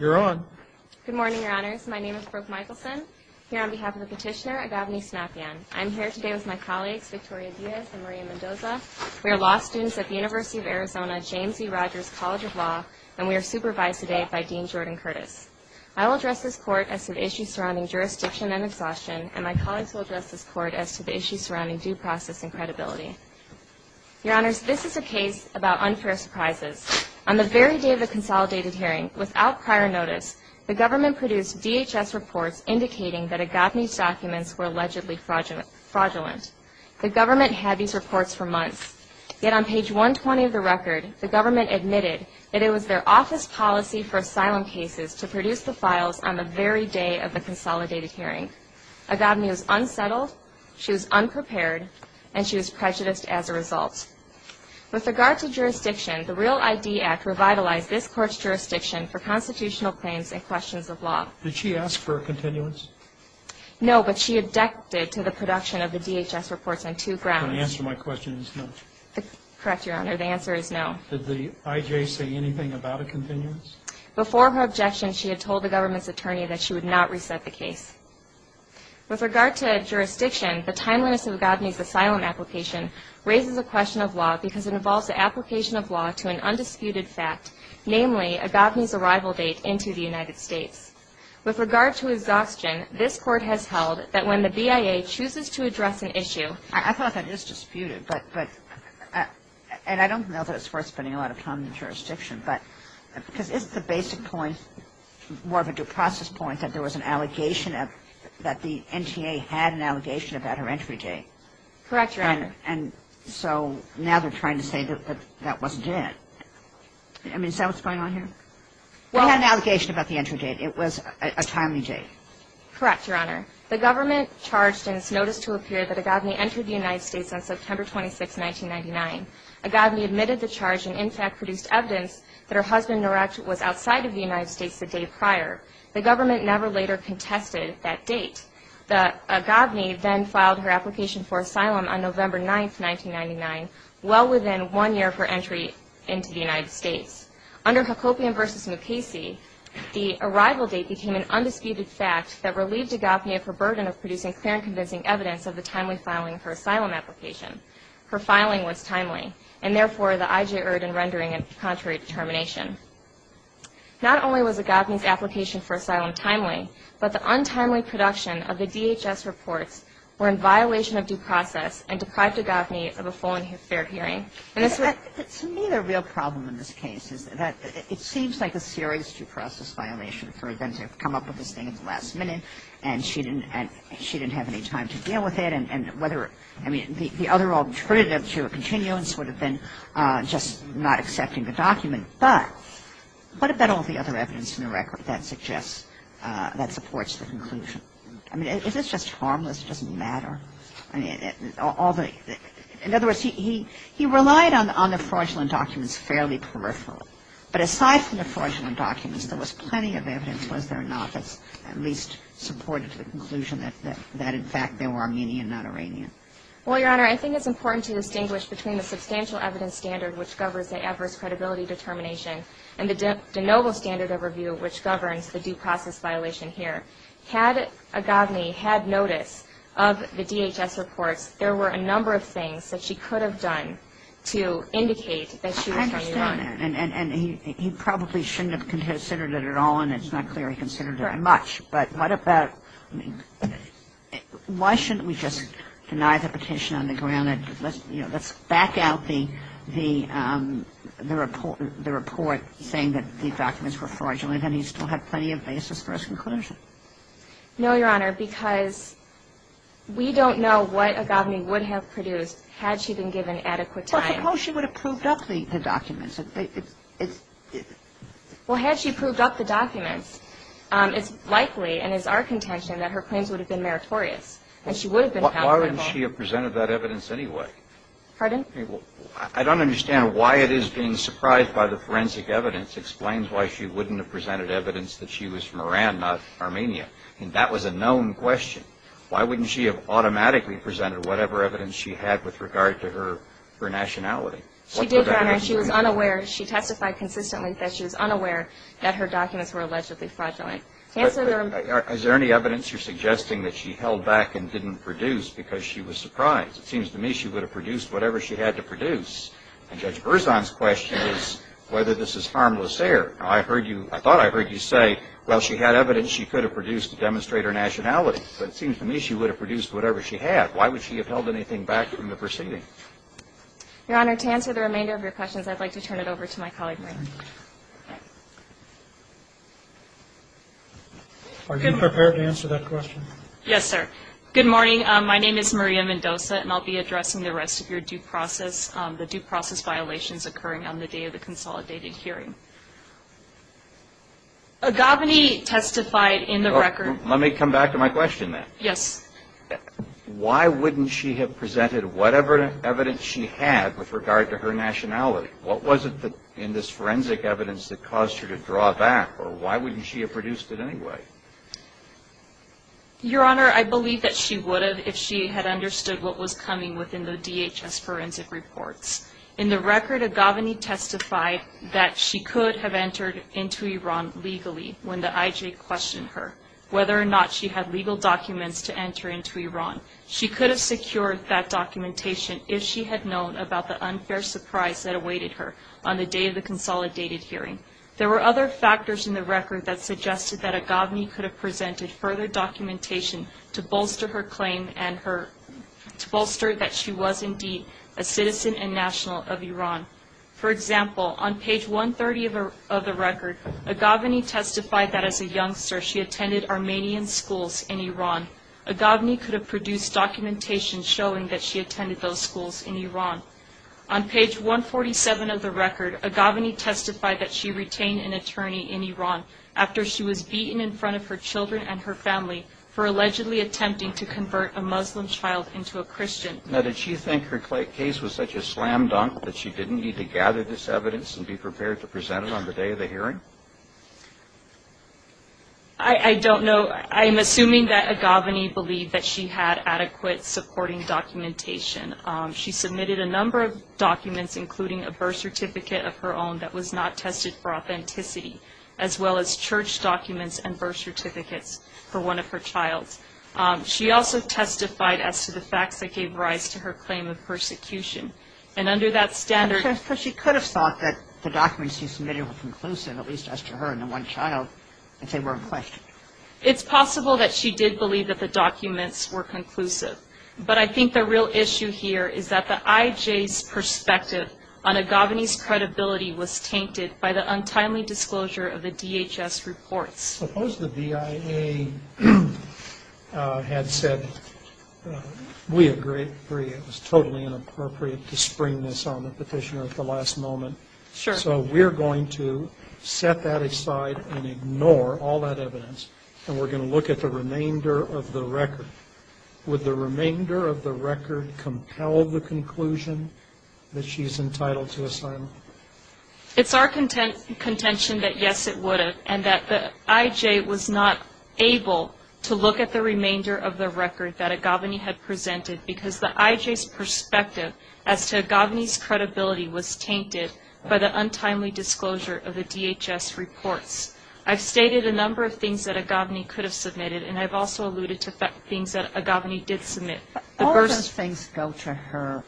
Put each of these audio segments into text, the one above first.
You're on. Good morning, Your Honors. My name is Brooke Michelson. Here on behalf of the petitioner, Agave Snapian. I'm here today with my colleagues, Victoria Diaz and Maria Mendoza. We are law students at the University of Arizona James E. Rogers College of Law, and we are supervised today by Dean Jordan Curtis. I will address this court as to the issues surrounding jurisdiction and exhaustion, and my colleagues will address this court as to the issues surrounding due process and credibility. Your Honors, this is a case about unfair surprises. On the very day of the consolidated hearing, without prior notice, the government produced DHS reports indicating that Agave's documents were allegedly fraudulent. The government had these reports for months, yet on page 120 of the record, the government admitted that it was their office policy for asylum cases to produce the files on the very day of the consolidated hearing. Agave was unsettled, she was unprepared, and she was prejudiced as a result. With regard to jurisdiction, the Real ID Act revitalized this court's jurisdiction for constitutional claims and questions of law. Did she ask for a continuance? No, but she objected to the production of the DHS reports on two grounds. The answer to my question is no. Correct, Your Honor. The answer is no. Did the IJ say anything about a continuance? Before her objection, she had told the government's attorney that she would not reset the case. With regard to jurisdiction, the timeliness of Agave's asylum application raises a question of law because it involves the application of law to an undisputed fact, namely, Agave's arrival date into the United States. With regard to exhaustion, this court has held that when the BIA chooses to address an issue I thought that is disputed, but, and I don't know that it's worth spending a lot of time on jurisdiction, but, because isn't the basic point more of a due process point that there was an allegation that the NTA had an allegation about her entry date? Correct, Your Honor. And so now they're trying to say that that wasn't it. I mean, is that what's going on here? Well We had an allegation about the entry date. It was a timely date. Correct, Your Honor. The government charged in its notice to appear that Agave entered the United States on September 26, 1999. Agave admitted the charge and, in fact, produced evidence that her husband was outside of the United States the day prior. The government never later contested that date. Agave then filed her application for asylum on November 9, 1999, well within one year of her entry into the United States. Under Hacopian v. Mukasey, the arrival date became an undisputed fact that relieved Agave of her burden of producing clear and convincing evidence of the timely filing of her asylum application. Her filing was timely and, therefore, the I.J. Erd and rendering a contrary determination. Not only was Agave's application for asylum timely, but the untimely production of the DHS reports were in violation of due process and deprived Agave of a full and fair hearing. And that's what you're saying? To me, the real problem in this case is that it seems like a serious due process violation for them to come up with this thing at the last minute and she didn't have any time to deal with it and whether, I mean, the other alternative to a continuance would have been just not accepting the document. But what about all the other evidence in the record that suggests, that supports the conclusion? I mean, is this just harmless? It doesn't matter? In other words, he relied on the fraudulent documents fairly peripheral. But aside from the fraudulent documents, there was plenty of evidence, was there not, that at least supported the conclusion that, in fact, they were Armenian, not Iranian? Well, Your Honor, I think it's important to distinguish between the substantial evidence standard which governs the adverse credibility determination and the de novo standard overview which governs the due process violation here. I mean, the evidence standard, had Aghavni had notice of the DHS reports, there were a number of things that she could have done to indicate that she was from Iran. I understand that. And he probably shouldn't have considered it at all and it's not clear he considered it much. But what about why shouldn't we just deny the petition on the ground? I mean, let's back out the report saying that the documents were fraudulent and he still had plenty of basis for his conclusion. No, Your Honor, because we don't know what Aghavni would have produced had she been given adequate time. Well, suppose she would have proved up the documents. Well, had she proved up the documents, it's likely and is our contention that her claims would have been meritorious and she would have been accountable. But why wouldn't she have presented that evidence anyway? Pardon? I don't understand why it is being surprised by the forensic evidence explains why she wouldn't have presented evidence that she was from Iran, not Armenia. That was a known question. Why wouldn't she have automatically presented whatever evidence she had with regard to her nationality? She did, Your Honor. She was unaware. She testified consistently that she was unaware that her documents were allegedly fraudulent. Is there any evidence you're suggesting that she held back and didn't produce because she was surprised? It seems to me she would have produced whatever she had to produce. And Judge Berzon's question is whether this is harmless error. I thought I heard you say, well, she had evidence she could have produced to demonstrate her nationality. But it seems to me she would have produced whatever she had. Why would she have held anything back from the proceeding? Your Honor, to answer the remainder of your questions, I'd like to turn it over to my colleague, Maria. Are you prepared to answer that question? Yes, sir. Good morning. My name is Maria Mendoza, and I'll be addressing the rest of your due process, the due process violations occurring on the day of the consolidated hearing. Aghavani testified in the record. Let me come back to my question then. Yes. Why wouldn't she have presented whatever evidence she had with regard to her nationality? What was it in this forensic evidence that caused her to draw back? Or why wouldn't she have produced it anyway? Your Honor, I believe that she would have if she had understood what was coming within the DHS forensic reports. In the record, Aghavani testified that she could have entered into Iran legally when the IJ questioned her. Whether or not she had legal documents to enter into Iran, she could have secured that documentation if she had known about the unfair surprise that awaited her on the day of the consolidated hearing. There were other factors in the record that suggested that Aghavani could have presented further documentation to bolster her claim and to bolster that she was indeed a citizen and national of Iran. For example, on page 130 of the record, Aghavani testified that as a youngster she attended Armenian schools in Iran. Aghavani could have produced documentation showing that she attended those schools in Iran. On page 147 of the record, Aghavani testified that she retained an attorney in Iran after she was beaten in front of her children and her family for allegedly attempting to convert a Muslim child into a Christian. Now, did she think her case was such a slam dunk that she didn't need to gather this evidence and be prepared to present it on the day of the hearing? I don't know. I'm assuming that Aghavani believed that she had adequate supporting documentation. She submitted a number of documents, including a birth certificate of her own that was not tested for authenticity, as well as church documents and birth certificates for one of her children. She also testified as to the facts that gave rise to her claim of persecution. And under that standard— Because she could have thought that the documents she submitted were conclusive, at least as to her and the one child, if they were in question. It's possible that she did believe that the documents were conclusive. But I think the real issue here is that the IJ's perspective on Aghavani's credibility was tainted by the untimely disclosure of the DHS reports. Suppose the BIA had said, we agree, it was totally inappropriate to spring this on the petitioner at the last moment. Sure. So we're going to set that aside and ignore all that evidence, and we're going to look at the remainder of the record. Would the remainder of the record compel the conclusion that she's entitled to asylum? It's our contention that, yes, it would have, and that the IJ was not able to look at the remainder of the record that Aghavani had presented because the IJ's perspective as to Aghavani's credibility was tainted by the untimely disclosure of the DHS reports. I've stated a number of things that Aghavani could have submitted, and I've also alluded to things that Aghavani did submit. All those things go to her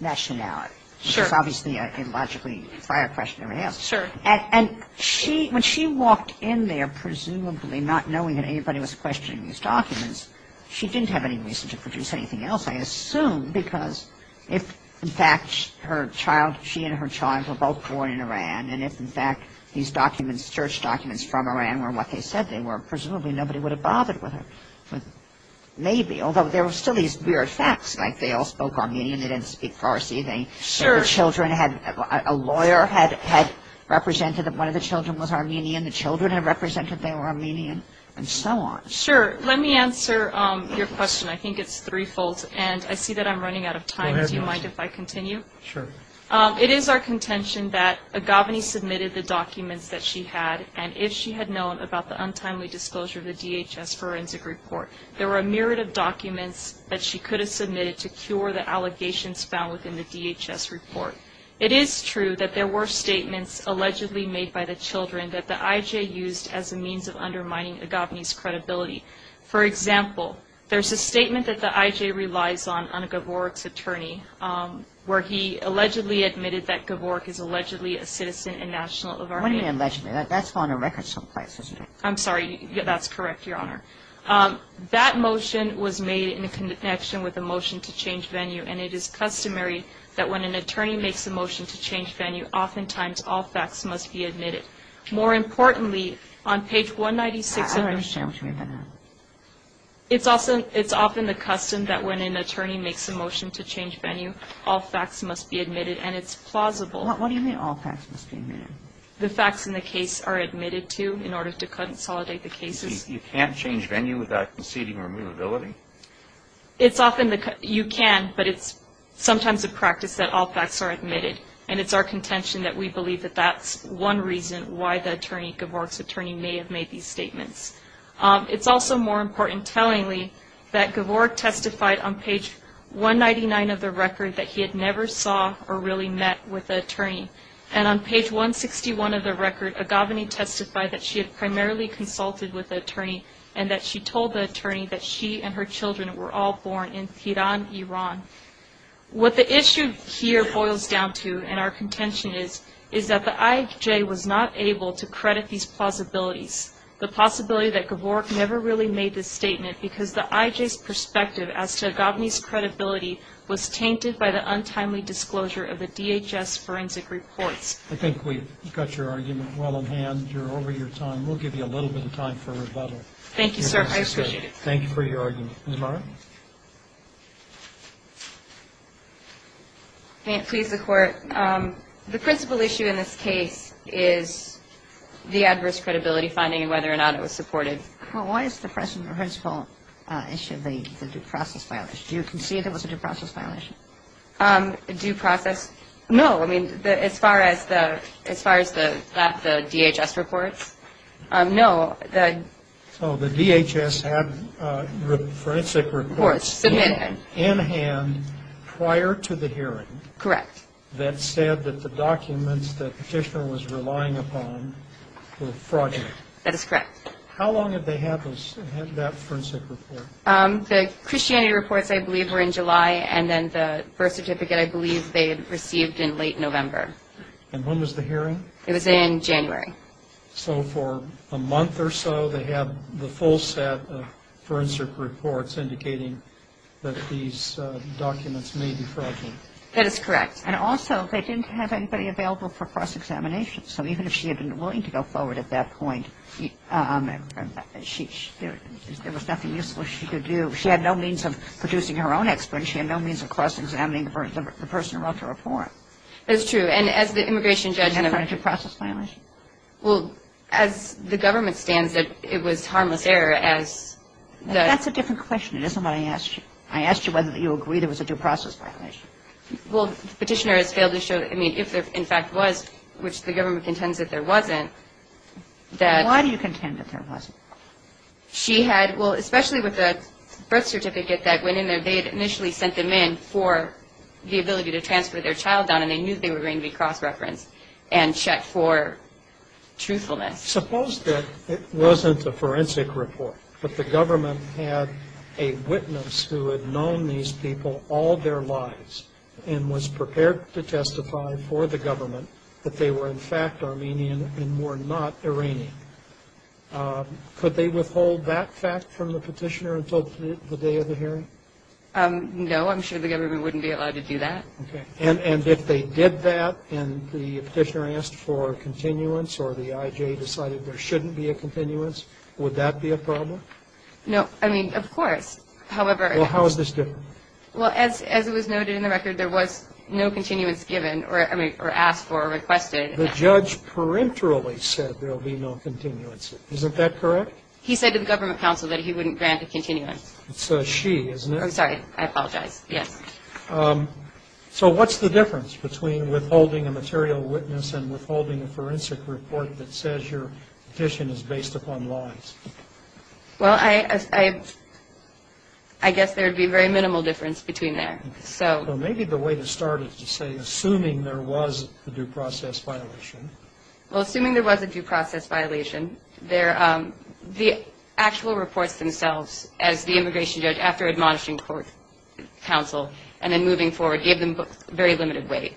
nationality. Sure. It's obviously a logically prior question to everything else. Sure. And when she walked in there, presumably not knowing that anybody was questioning these documents, she didn't have any reason to produce anything else, I assume, because if, in fact, her child, she and her child were both born in Iran, and if, in fact, these documents, search documents from Iran were what they said they were, presumably nobody would have bothered with her. Maybe, although there were still these weird facts, like they all spoke Armenian, they didn't speak Farsi, the children had, a lawyer had represented that one of the children was Armenian, the children had represented they were Armenian, and so on. Sure. Let me answer your question. I think it's threefold, and I see that I'm running out of time. Do you mind if I continue? Sure. It is our contention that Aghavani submitted the documents that she had, and if she had known about the untimely disclosure of the DHS forensic report, there were a myriad of documents that she could have submitted to cure the allegations found within the DHS report. It is true that there were statements allegedly made by the children that the IJ used as a means of undermining Aghavani's credibility. For example, there's a statement that the IJ relies on, on Gavork's attorney, where he allegedly admitted that Gavork is allegedly a citizen and national of Armenia. What do you mean allegedly? That's on the record someplace, isn't it? I'm sorry, that's correct, Your Honor. That motion was made in connection with the motion to change venue, and it is customary that when an attorney makes a motion to change venue, oftentimes all facts must be admitted. More importantly, on page 196 of the motion. I don't understand what you mean by that. It's often the custom that when an attorney makes a motion to change venue, all facts must be admitted, and it's plausible. What do you mean all facts must be admitted? The facts in the case are admitted to in order to consolidate the cases. You can't change venue without conceding removability? You can, but it's sometimes a practice that all facts are admitted, and it's our contention that we believe that that's one reason why Gavork's attorney may have made these statements. It's also more important, tellingly, that Gavork testified on page 199 of the record that he had never saw or really met with an attorney. And on page 161 of the record, Aghavani testified that she had primarily consulted with the attorney and that she told the attorney that she and her children were all born in Tehran, Iran. What the issue here boils down to, and our contention is, is that the IJ was not able to credit these plausibilities, the possibility that Gavork never really made this statement because the IJ's perspective as to Aghavani's credibility was tainted by the untimely disclosure of the DHS forensic reports. I think we've got your argument well in hand. You're over your time. We'll give you a little bit of time for rebuttal. Thank you, sir. I appreciate it. Thank you for your argument. Ms. Morrow? May it please the Court? The principal issue in this case is the adverse credibility finding and whether or not it was supported. Well, why is the principal issue the due process violation? Do you concede it was a due process violation? Due process? No, I mean, as far as the DHS reports, no. So the DHS had forensic reports in hand prior to the hearing that said that the documents that the petitioner was relying upon were fraudulent. That is correct. How long had they had that forensic report? The Christianity reports, I believe, were in July, and then the birth certificate, I believe, they had received in late November. And when was the hearing? It was in January. So for a month or so, they had the full set of forensic reports indicating that these documents may be fraudulent. That is correct. And also, they didn't have anybody available for cross-examination. So even if she had been willing to go forward at that point, there was nothing useful she could do. She had no means of producing her own expert. She had no means of cross-examining the person who wrote the report. That is true. And as the immigration judge in America ---- Was that a due process violation? Well, as the government stands, it was harmless error as the ---- That's a different question. It isn't what I asked you. I asked you whether you agree there was a due process violation. Well, the petitioner has failed to show, I mean, if there in fact was, which the government contends that there wasn't, that ---- Why do you contend that there wasn't? She had, well, especially with the birth certificate that went in there, they had initially sent them in for the ability to transfer their child down, and they knew they were going to be cross-referenced and checked for truthfulness. Suppose that it wasn't a forensic report, but the government had a witness who had known these people all their lives and was prepared to testify for the government that they were, in fact, Armenian and were not Iranian. Could they withhold that fact from the petitioner until the day of the hearing? No. I'm sure the government wouldn't be allowed to do that. Okay. And if they did that and the petitioner asked for continuance or the IJ decided there shouldn't be a continuance, would that be a problem? No. I mean, of course. However ---- Well, how is this different? Well, as it was noted in the record, there was no continuance given, or, I mean, or asked for or requested. The judge peremptorily said there will be no continuance. Isn't that correct? He said to the government counsel that he wouldn't grant a continuance. It's a she, isn't it? I'm sorry. I apologize. Yes. So what's the difference between withholding a material witness and withholding a forensic report that says your petition is based upon lies? Well, I guess there would be very minimal difference between there. Maybe the way to start is to say assuming there was a due process violation. Well, assuming there was a due process violation, the actual reports themselves as the immigration judge, after admonishing court counsel and then moving forward, gave them very limited weight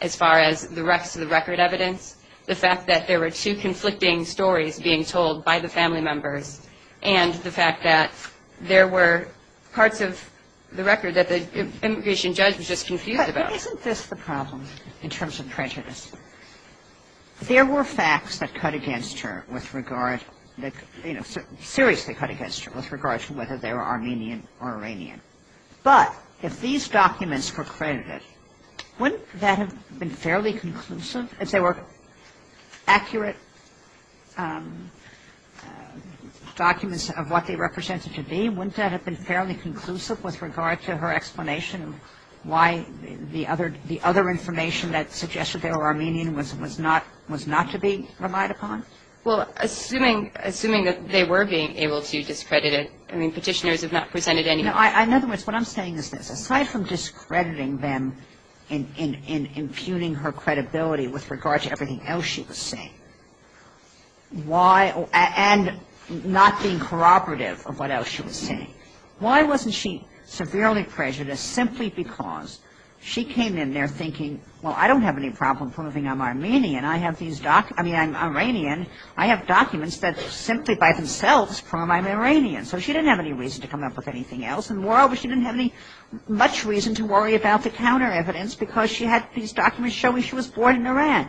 as far as the rest of the record evidence, the fact that there were two conflicting stories being told by the family members and the fact that there were parts of the record that the immigration judge was just confused about. But isn't this the problem in terms of prejudice? There were facts that cut against her with regard, you know, seriously cut against her with regard to whether they were Armenian or Iranian. But if these documents were credited, wouldn't that have been fairly conclusive as they were accurate documents of what they represented to be? Wouldn't that have been fairly conclusive with regard to her explanation why the other information that suggested they were Armenian was not to be relied upon? Well, assuming that they were being able to discredit it, I mean, petitioners have not presented any evidence. In other words, what I'm saying is this. In impugning her credibility with regard to everything else she was saying, and not being corroborative of what else she was saying, why wasn't she severely prejudiced simply because she came in there thinking, well, I don't have any problem proving I'm Armenian. I have these documents. I mean, I'm Iranian. I have documents that simply by themselves prove I'm Iranian. So she didn't have any reason to come up with anything else. And moreover, she didn't have much reason to worry about the counter evidence because she had these documents showing she was born in Iran.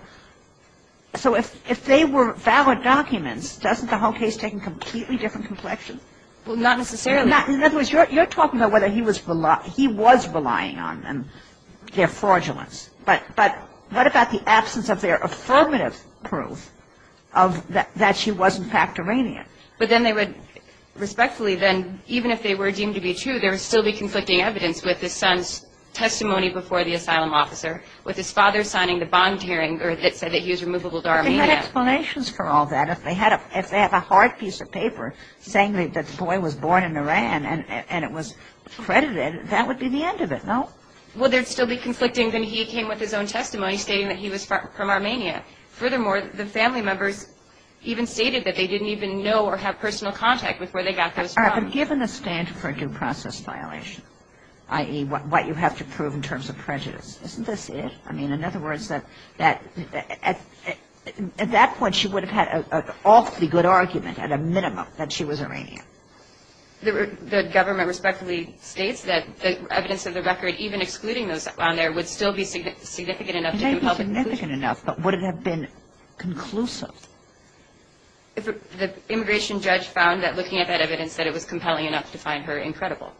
So if they were valid documents, doesn't the whole case take a completely different complexion? Well, not necessarily. In other words, you're talking about whether he was relying on them, their fraudulence. But what about the absence of their affirmative proof that she was, in fact, Iranian? But then they would respectfully then, even if they were deemed to be true, there would still be conflicting evidence with his son's testimony before the asylum officer, with his father signing the bond hearing that said that he was removable to Armenia. But they had explanations for all that. If they had a hard piece of paper saying that the boy was born in Iran and it was credited, that would be the end of it, no? Well, there would still be conflicting. Then he came with his own testimony stating that he was from Armenia. Furthermore, the family members even stated that they didn't even know or have personal contact with where they got those from. All right. But given the standard for a due process violation, i.e., what you have to prove in terms of prejudice, isn't this it? I mean, in other words, at that point, she would have had an awfully good argument at a minimum that she was Iranian. The government respectfully states that the evidence of the record, even excluding those on there, would still be significant enough to compel the conclusion. It would still be significant enough, but would it have been conclusive? The immigration judge found that looking at that evidence, that it was compelling enough to find her incredible.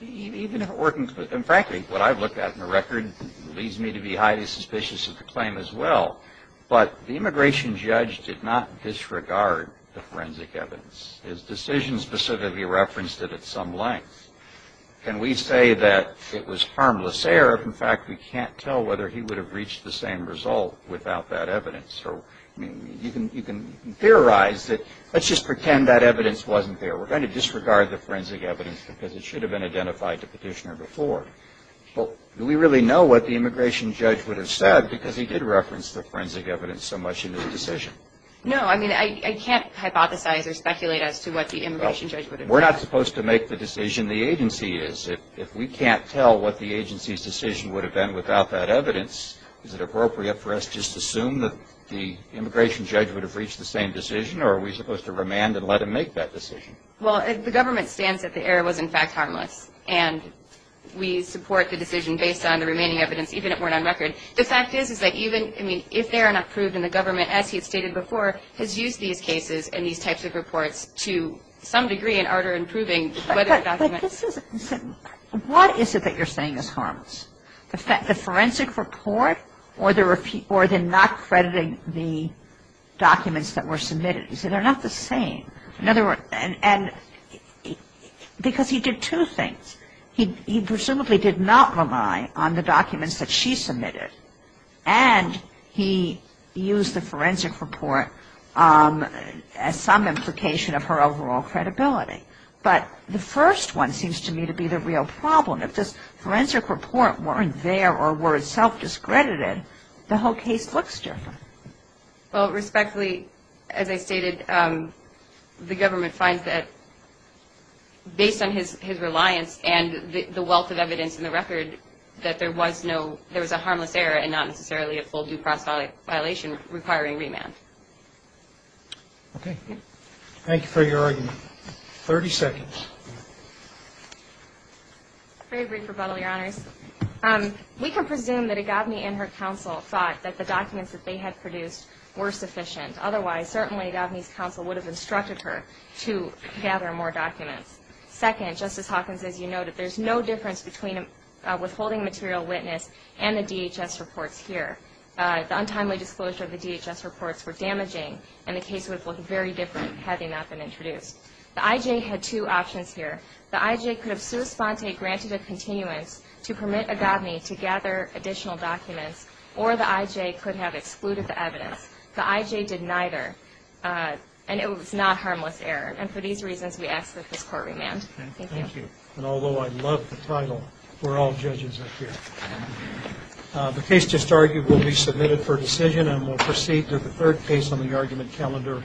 Even if it were conclusive, and frankly, what I've looked at in the record leads me to be highly suspicious of the claim as well. But the immigration judge did not disregard the forensic evidence. His decision specifically referenced it at some length. Can we say that it was harmless error if, in fact, we can't tell whether he would have reached the same result without that evidence? I mean, you can theorize that let's just pretend that evidence wasn't there. We're going to disregard the forensic evidence because it should have been identified to Petitioner before. But do we really know what the immigration judge would have said because he did reference the forensic evidence so much in his decision? No. I mean, I can't hypothesize or speculate as to what the immigration judge would have said. Well, we're not supposed to make the decision. The agency is. If we can't tell what the agency's decision would have been without that evidence, is it appropriate for us to just assume that the immigration judge would have reached the same decision, or are we supposed to remand and let him make that decision? Well, the government stands that the error was, in fact, harmless. And we support the decision based on the remaining evidence, even if it weren't on record. The fact is that even if they are not proved, and the government, as he had stated before, has used these cases and these types of reports to some degree in order in proving whether the document. But this isn't. What is it that you're saying is harmless? The forensic report or the not crediting the documents that were submitted? He said they're not the same. In other words, and because he did two things. He presumably did not rely on the documents that she submitted, and he used the forensic report as some implication of her overall credibility. But the first one seems to me to be the real problem. If this forensic report weren't there or were self-discredited, the whole case looks different. Well, respectfully, as I stated, the government finds that based on his reliance and the wealth of evidence in the record, that there was a harmless error and not necessarily a full due process violation requiring remand. Okay. Thank you for your argument. Thirty seconds. Very brief rebuttal, Your Honors. We can presume that Agave and her counsel thought that the documents that they had produced were sufficient. Otherwise, certainly Agave's counsel would have instructed her to gather more documents. Second, Justice Hawkins, as you noted, there's no difference between withholding material witness and the DHS reports here. The untimely disclosure of the DHS reports were damaging, and the case would have looked very different had they not been introduced. The I.J. had two options here. The I.J. could have sua sponte granted a continuance to permit Agave to gather additional documents, or the I.J. could have excluded the evidence. The I.J. did neither, and it was not a harmless error. And for these reasons, we ask that this court remand. Thank you. Thank you. And although I love the title, we're all judges up here. The case just argued will be submitted for decision, and we'll proceed to the third case on the argument calendar.